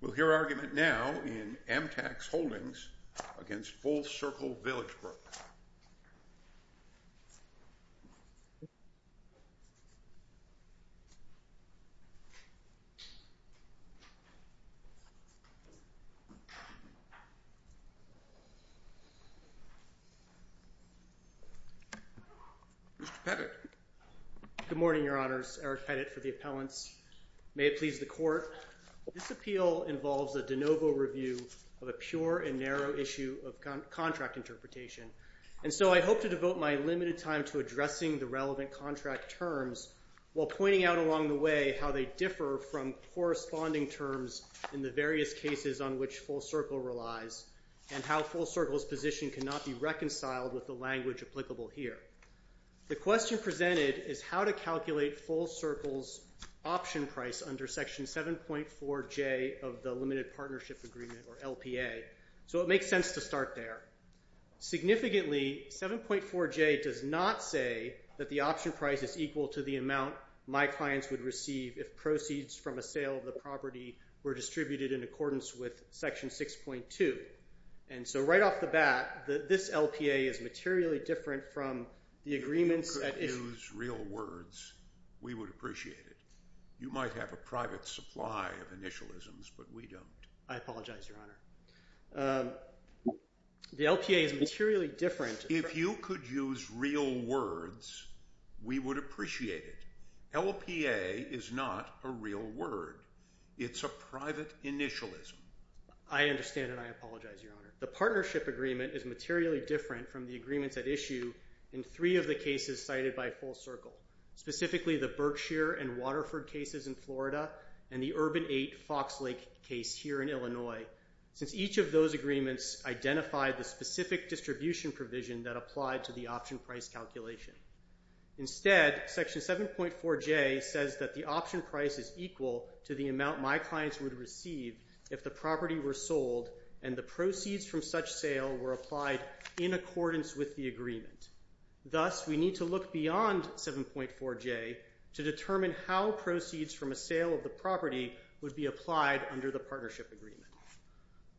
We'll hear argument now in AMTAX Holdings against Full Circle Villagebrook. Mr. Pettit. Good morning, Your Honors. Eric Pettit for the appellants. May it please the Court, this appeal involves a de novo review of a pure and narrow issue of contract interpretation, and so I hope to devote my limited time to addressing the relevant contract terms while pointing out along the way how they differ from corresponding terms in the various cases on which Full Circle relies and how Full Circle's position cannot be reconciled with the language applicable here. The question presented is how to calculate Full Circle's option price under Section 7.4J of the Limited Partnership Agreement, or LPA. So it makes sense to start there. Significantly, 7.4J does not say that the option price is equal to the amount my clients would receive if proceeds from a sale of the property were distributed in accordance with Section 6.2. And so right off the bat, this LPA is materially different from the agreements at issue. If you could use real words, we would appreciate it. You might have a private supply of initialisms, but we don't. I apologize, Your Honor. The LPA is materially different. If you could use real words, we would appreciate it. LPA is not a real word. It's a private initialism. I understand and I apologize, Your Honor. The Partnership Agreement is materially different from the agreements at issue in three of the cases cited by Full Circle, specifically the Berkshire and Waterford cases in Florida and the Urban 8 Fox Lake case here in Illinois, since each of those agreements identified the specific distribution provision that applied to the option price calculation. Instead, Section 7.4J says that the option price is equal to the amount my clients would receive if the property were sold and the proceeds from such sale were applied in accordance with the agreement. Thus, we need to look beyond 7.4J to determine how proceeds from a sale of the property would be applied under the Partnership Agreement.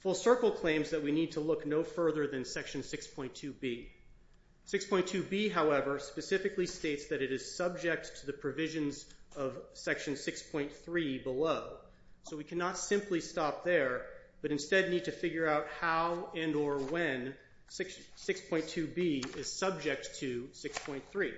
Full Circle claims that we need to look no further than Section 6.2B. 6.2B, however, specifically states that it is subject to the provisions of Section 6.3 below. So we cannot simply stop there, but instead need to figure out how and or when 6.2B is subject to 6.3.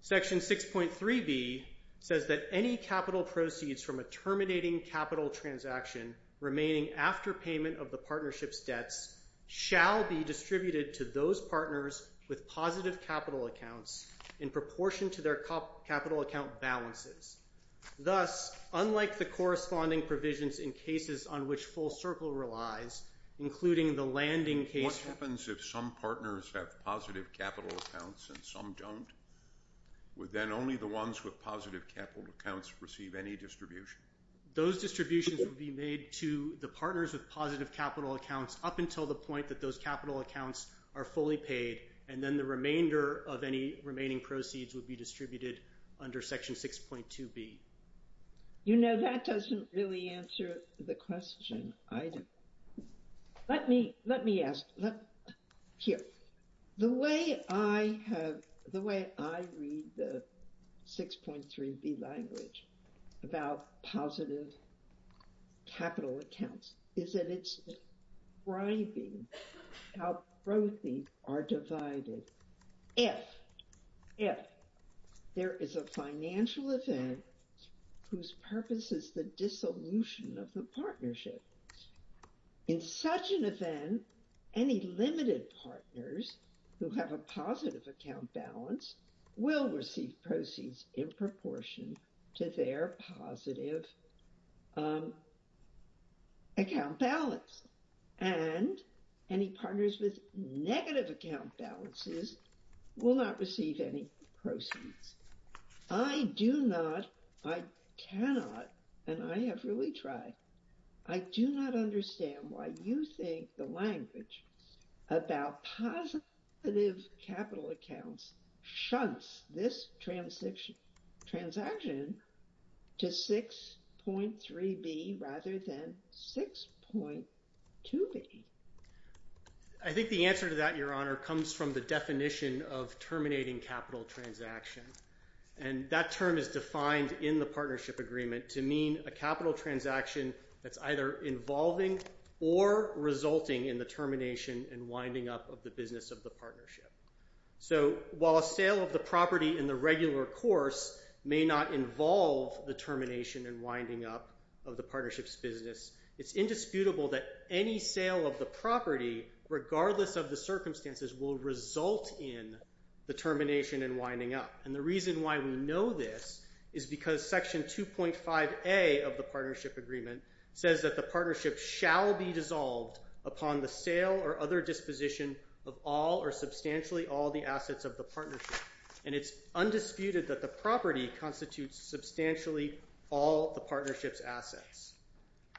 Section 6.3B says that any capital proceeds from a terminating capital transaction remaining after payment of the partnership's debts shall be distributed to those partners with positive capital accounts in proportion to their capital account balances. Thus, unlike the corresponding provisions in cases on which Full Circle relies, including the landing case... What happens if some partners have positive capital accounts and some don't? Would then only the ones with positive capital accounts receive any distribution? Those distributions would be made to the partners with positive capital accounts up until the point that those capital accounts are fully paid and then the remainder of any remaining proceeds would be distributed under Section 6.2B. You know, that doesn't really answer the question. Let me ask. Here. The way I read the 6.3B language about positive capital accounts is that it's describing how both are divided. If there is a financial event whose purpose is the dissolution of the partnership. In such an event, any limited partners who have a positive account balance will receive proceeds in proportion to their positive account balance. And any partners with negative account balances will not receive any proceeds. I do not, I cannot, and I have really tried. I do not understand why you think the language about positive capital accounts shunts this transaction to 6.3B rather than 6.2B. I think the answer to that, Your Honor, comes from the definition of terminating capital transaction. And that term is defined in the partnership agreement to mean a capital transaction that's either involving or resulting in the termination and winding up of the business of the partnership. So while a sale of the property in the regular course may not involve the termination and winding up of the partnership's business, it's indisputable that any sale of the property, regardless of the circumstances, will result in the termination and winding up. And the reason why we know this is because Section 2.5A of the partnership agreement says that the partnership shall be dissolved upon the sale or other disposition of all or substantially all the assets of the partnership. And it's undisputed that the property constitutes substantially all the partnership's assets.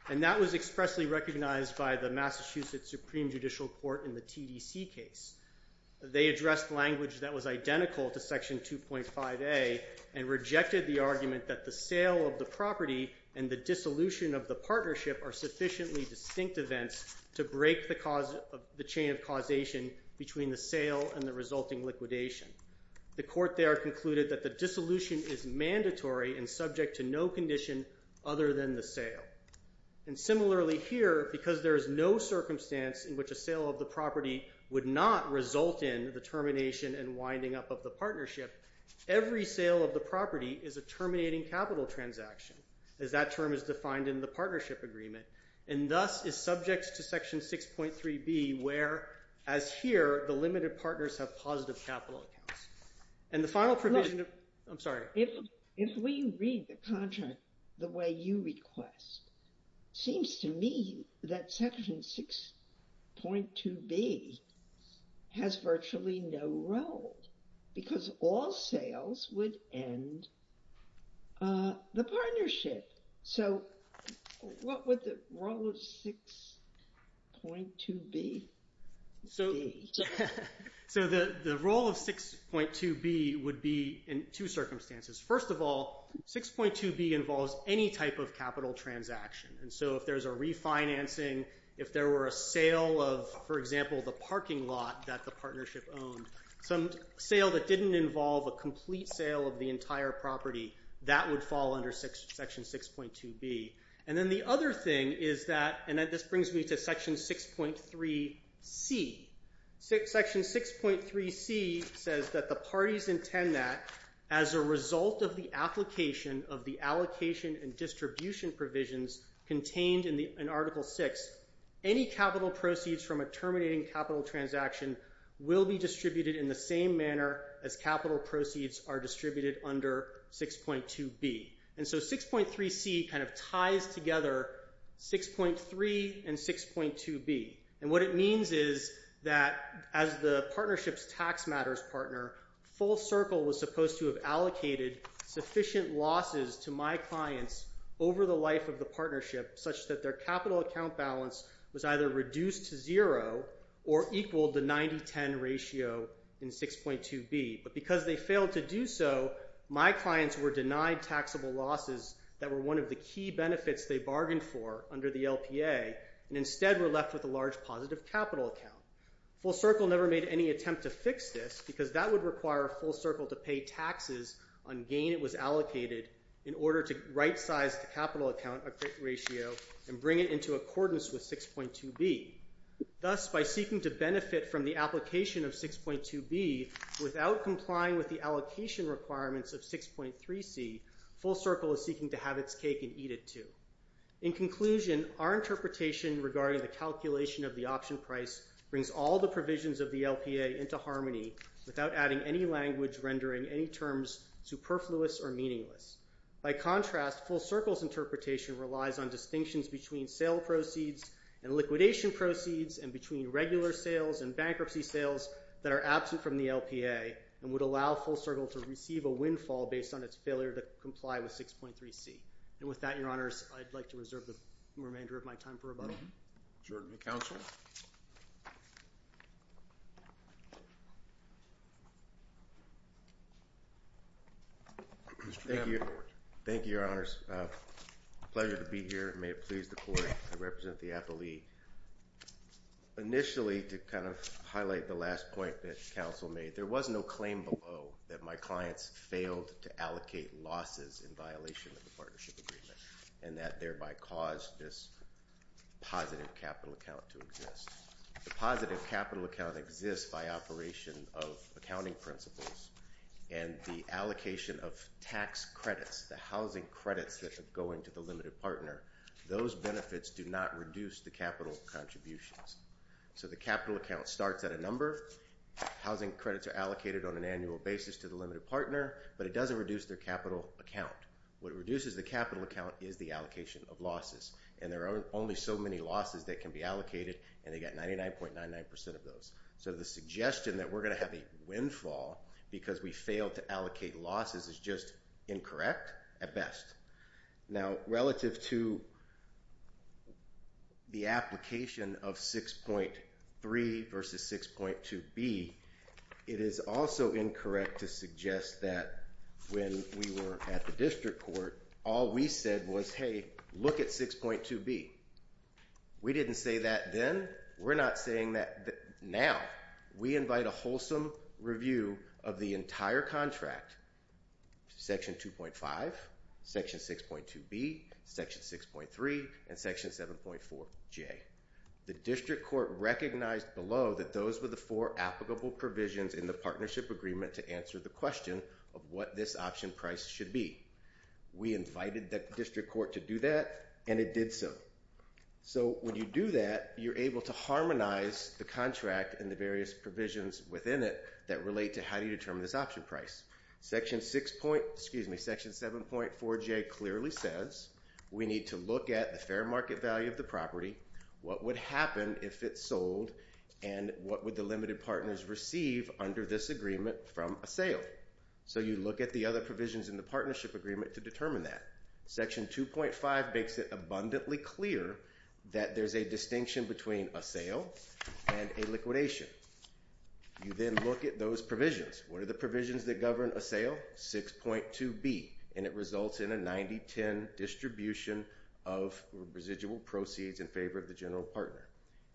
And that was expressly recognized by the Massachusetts Supreme Judicial Court in the TDC case. They addressed language that was identical to Section 2.5A and rejected the argument that the sale of the property and the dissolution of the partnership are sufficiently distinct events to break the chain of causation between the sale and the resulting liquidation. The court there concluded that the dissolution is mandatory and subject to no condition other than the sale. And similarly here, because there is no circumstance in which a sale of the property would not result in the termination and winding up of the partnership, every sale of the property is a terminating capital transaction, as that term is defined in the partnership agreement, and thus is subject to Section 6.3B where, as here, the limited partners have positive capital accounts. And the final provision of... I'm sorry. If we read the contract the way you request, it seems to me that Section 6.2B has virtually no role because all sales would end the partnership. So what would the role of 6.2B be? So the role of 6.2B would be in two circumstances. First of all, 6.2B involves any type of capital transaction. And so if there's a refinancing, if there were a sale of, for example, the parking lot that the partnership owned, some sale that didn't involve a complete sale of the entire property, that would fall under Section 6.2B. And then the other thing is that, and this brings me to Section 6.3C. Section 6.3C says that the parties intend that, as a result of the application of the allocation and distribution provisions contained in Article VI, any capital proceeds from a terminating capital transaction will be distributed in the same manner as capital proceeds are distributed under 6.2B. And so 6.3C kind of ties together 6.3 and 6.2B. And what it means is that, as the partnership's tax matters partner, Full Circle was supposed to have allocated sufficient losses to my clients over the life of the partnership such that their capital account balance was either reduced to zero or equaled the 90-10 ratio in 6.2B. But because they failed to do so, my clients were denied taxable losses that were one of the key benefits they bargained for under the LPA, and instead were left with a large positive capital account. Full Circle never made any attempt to fix this because that would require Full Circle to pay taxes on gain it was allocated in order to right-size the capital account ratio and bring it into accordance with 6.2B. Thus, by seeking to benefit from the application of 6.2B without complying with the allocation requirements of 6.3C, Full Circle is seeking to have its cake and eat it too. In conclusion, our interpretation regarding the calculation of the option price brings all the provisions of the LPA into harmony without adding any language rendering any terms superfluous or meaningless. By contrast, Full Circle's interpretation relies on distinctions between sale proceeds and liquidation proceeds and between regular sales and bankruptcy sales that are absent from the LPA and would allow Full Circle to receive a windfall based on its failure to comply with 6.3C. And with that, Your Honors, I'd like to reserve the remainder of my time for rebuttal. Is there any discussion? Thank you, Your Honors. It's a pleasure to be here. May it please the Court. I represent the appellee. Initially, to kind of highlight the last point that counsel made, there was no claim below that my clients failed to allocate losses in violation of the partnership agreement and that thereby caused this positive capital account to exist. The positive capital account exists by operation of accounting principles and the allocation of tax credits, the housing credits that are going to the limited partner, those benefits do not reduce the capital contributions. So the capital account starts at a number. Housing credits are allocated on an annual basis to the limited partner, but it doesn't reduce their capital account. What reduces the capital account is the allocation of losses, and there are only so many losses that can be allocated, and they got 99.99% of those. So the suggestion that we're going to have a windfall because we failed to allocate losses is just incorrect at best. Now, relative to the application of 6.3 versus 6.2B, it is also incorrect to suggest that when we were at the district court, all we said was, hey, look at 6.2B. We didn't say that then. We're not saying that now. We invite a wholesome review of the entire contract, section 2.5, section 6.2B, section 6.3, and section 7.4J. The district court recognized below that those were the four applicable provisions in the partnership agreement to answer the question of what this option price should be. We invited the district court to do that, and it did so. So when you do that, you're able to harmonize the contract and the various provisions within it that relate to how you determine this option price. Section 7.4J clearly says we need to look at the fair market value of the property, what would happen if it sold, and what would the limited partners receive under this agreement from a sale. So you look at the other provisions in the partnership agreement to determine that. Section 2.5 makes it abundantly clear that there's a distinction between a sale and a liquidation. You then look at those provisions. What are the provisions that govern a sale? 6.2B, and it results in a 90-10 distribution of residual proceeds in favor of the general partner.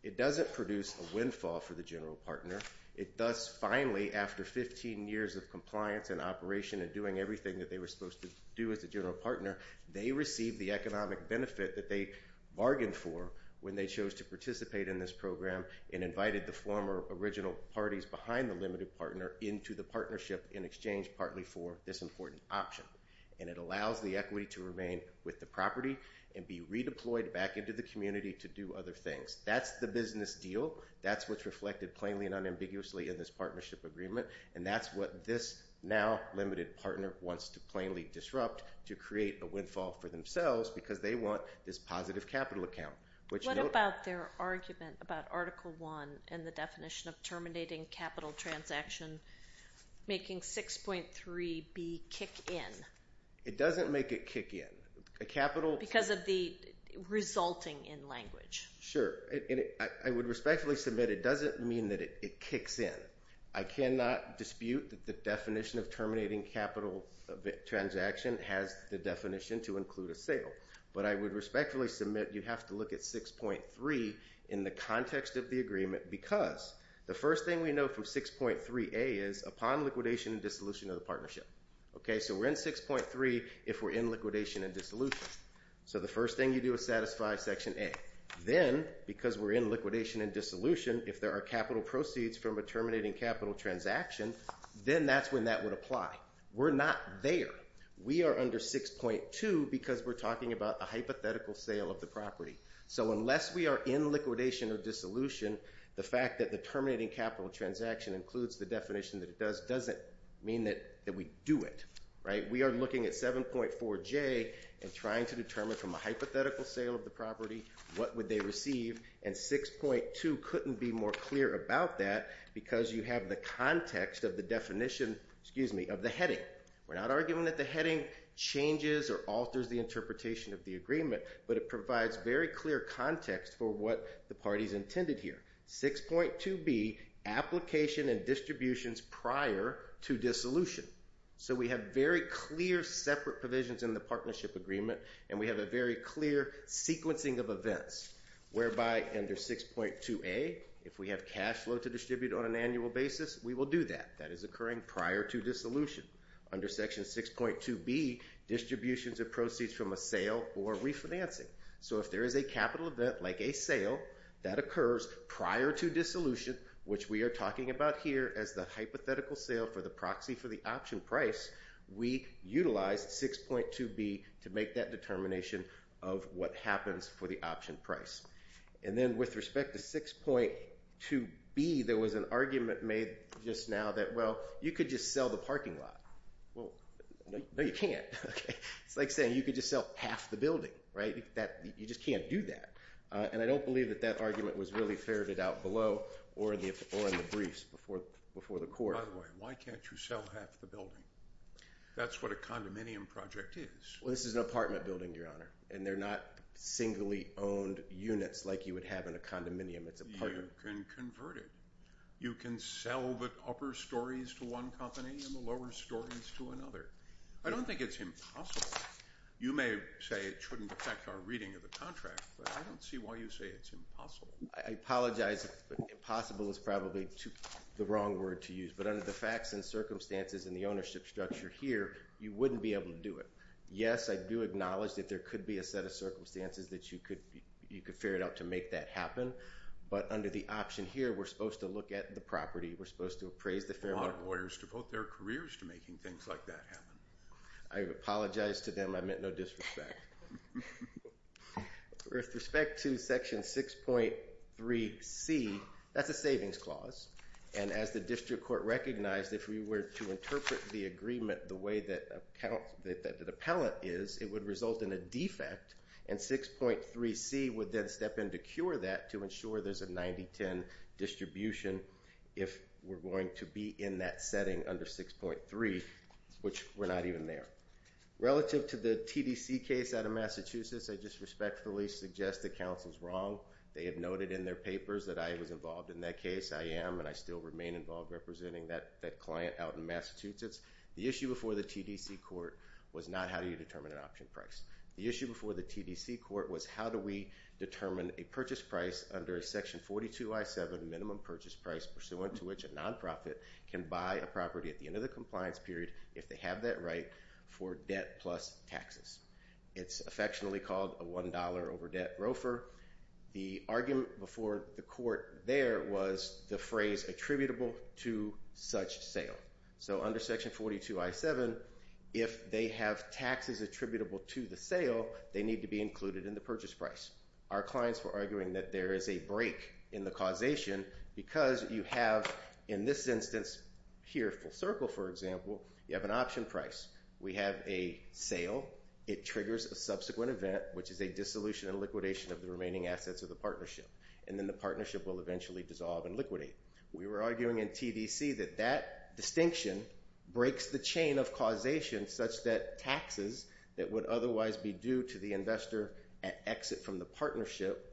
It doesn't produce a windfall for the general partner. It does finally, after 15 years of compliance and operation and doing everything that they were supposed to do as a general partner, they receive the economic benefit that they bargained for when they chose to participate in this program and invited the former original parties behind the limited partner into the partnership in exchange partly for this important option. And it allows the equity to remain with the property and be redeployed back into the community to do other things. That's the business deal. That's what's reflected plainly and unambiguously in this partnership agreement, and that's what this now limited partner wants to plainly disrupt to create a windfall for themselves because they want this positive capital account. What about their argument about Article 1 and the definition of terminating capital transaction making 6.3B kick in? It doesn't make it kick in. Because of the resulting in language. Sure. I would respectfully submit it doesn't mean that it kicks in. I cannot dispute that the definition of terminating capital transaction has the definition to include a sale. But I would respectfully submit you have to look at 6.3 in the context of the agreement because the first thing we know from 6.3A is upon liquidation and dissolution of the partnership. So we're in 6.3 if we're in liquidation and dissolution. So the first thing you do is satisfy Section A. Then, because we're in liquidation and dissolution, if there are capital proceeds from a terminating capital transaction, then that's when that would apply. We're not there. We are under 6.2 because we're talking about a hypothetical sale of the property. So unless we are in liquidation or dissolution, the fact that the terminating capital transaction includes the definition that it does doesn't mean that we do it. We are looking at 7.4J and trying to determine from a hypothetical sale of the property what would they receive. And 6.2 couldn't be more clear about that because you have the context of the definition of the heading. We're not arguing that the heading changes or alters the interpretation of the agreement, but it provides very clear context for what the party's intended here. 6.2B, application and distributions prior to dissolution. So we have very clear separate provisions in the partnership agreement, and we have a very clear sequencing of events whereby under 6.2A, if we have cash flow to distribute on an annual basis, we will do that. That is occurring prior to dissolution. Under Section 6.2B, distributions of proceeds from a sale or refinancing. So if there is a capital event like a sale that occurs prior to dissolution, which we are talking about here as the hypothetical sale for the proxy for the option price, we utilize 6.2B to make that determination of what happens for the option price. And then with respect to 6.2B, there was an argument made just now that, well, you could just sell the parking lot. No, you can't. It's like saying you could just sell half the building. You just can't do that. And I don't believe that that argument was really ferreted out below or in the briefs before the court. By the way, why can't you sell half the building? That's what a condominium project is. Well, this is an apartment building, Your Honor, and they're not singly owned units like you would have in a condominium. It's apartment. You can convert it. You can sell the upper stories to one company and the lower stories to another. I don't think it's impossible. You may say it shouldn't affect our reading of the contract, but I don't see why you say it's impossible. I apologize if impossible is probably the wrong word to use, but under the facts and circumstances and the ownership structure here, you wouldn't be able to do it. Yes, I do acknowledge that there could be a set of circumstances that you could ferret out to make that happen, but under the option here, we're supposed to look at the property. We're supposed to appraise the fair market. A lot of lawyers devote their careers to making things like that happen. I apologize to them. I meant no disrespect. With respect to Section 6.3c, that's a savings clause, and as the district court recognized, if we were to interpret the agreement the way that an appellant is, it would result in a defect, and 6.3c would then step in to cure that to ensure there's a 90-10 distribution if we're going to be in that setting under 6.3, which we're not even there. Relative to the TDC case out of Massachusetts, I just respectfully suggest that counsel's wrong. They have noted in their papers that I was involved in that case. I am and I still remain involved representing that client out in Massachusetts. The issue before the TDC court was not how do you determine an option price. The issue before the TDC court was how do we determine a purchase price under Section 42.I.7, minimum purchase price pursuant to which a nonprofit can buy a property at the end of the compliance period if they have that right for debt plus taxes. It's affectionately called a $1 over debt rofer. The argument before the court there was the phrase attributable to such sale. So under Section 42.I.7, if they have taxes attributable to the sale, they need to be included in the purchase price. Our clients were arguing that there is a break in the causation because you have, in this instance, here full circle, for example, you have an option price. We have a sale. It triggers a subsequent event, which is a dissolution and liquidation of the remaining assets of the partnership, and then the partnership will eventually dissolve and liquidate. We were arguing in TDC that that distinction breaks the chain of causation such that taxes that would otherwise be due to the investor at exit from the partnership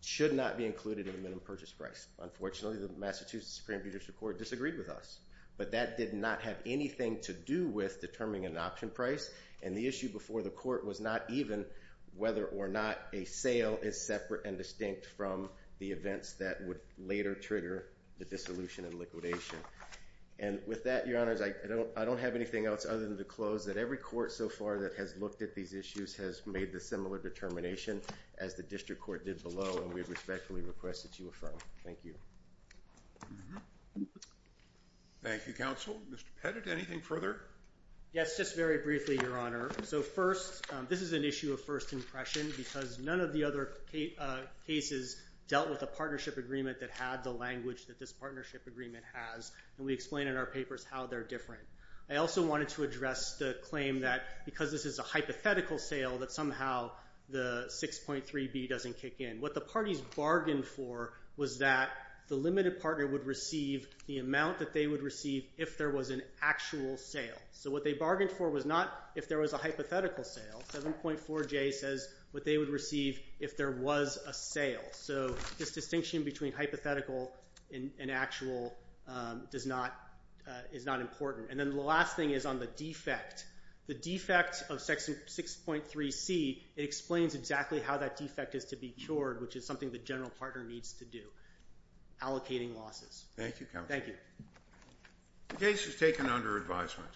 should not be included in the minimum purchase price. Unfortunately, the Massachusetts Supreme Judicial Court disagreed with us, but that did not have anything to do with determining an option price, and the issue before the court was not even whether or not a sale is separate and distinct from the events that would later trigger the dissolution and liquidation. And with that, Your Honors, I don't have anything else other than to close that every court so far that has looked at these issues has made the similar determination as the district court did below, and we respectfully request that you affirm. Thank you. Thank you, Counsel. Mr. Pettit, anything further? Yes, just very briefly, Your Honor. So first, this is an issue of first impression because none of the other cases dealt with a partnership agreement that had the language that this partnership agreement has, and we explain in our papers how they're different. I also wanted to address the claim that because this is a hypothetical sale that somehow the 6.3b doesn't kick in. What the parties bargained for was that the limited partner would receive the amount that they would receive if there was an actual sale. So what they bargained for was not if there was a hypothetical sale. 7.4j says what they would receive if there was a sale. So this distinction between hypothetical and actual is not important. And then the last thing is on the defect. The defect of 6.3c, it explains exactly how that defect is to be cured, which is something the general partner needs to do, allocating losses. Thank you, Counsel. Thank you. The case is taken under advisement.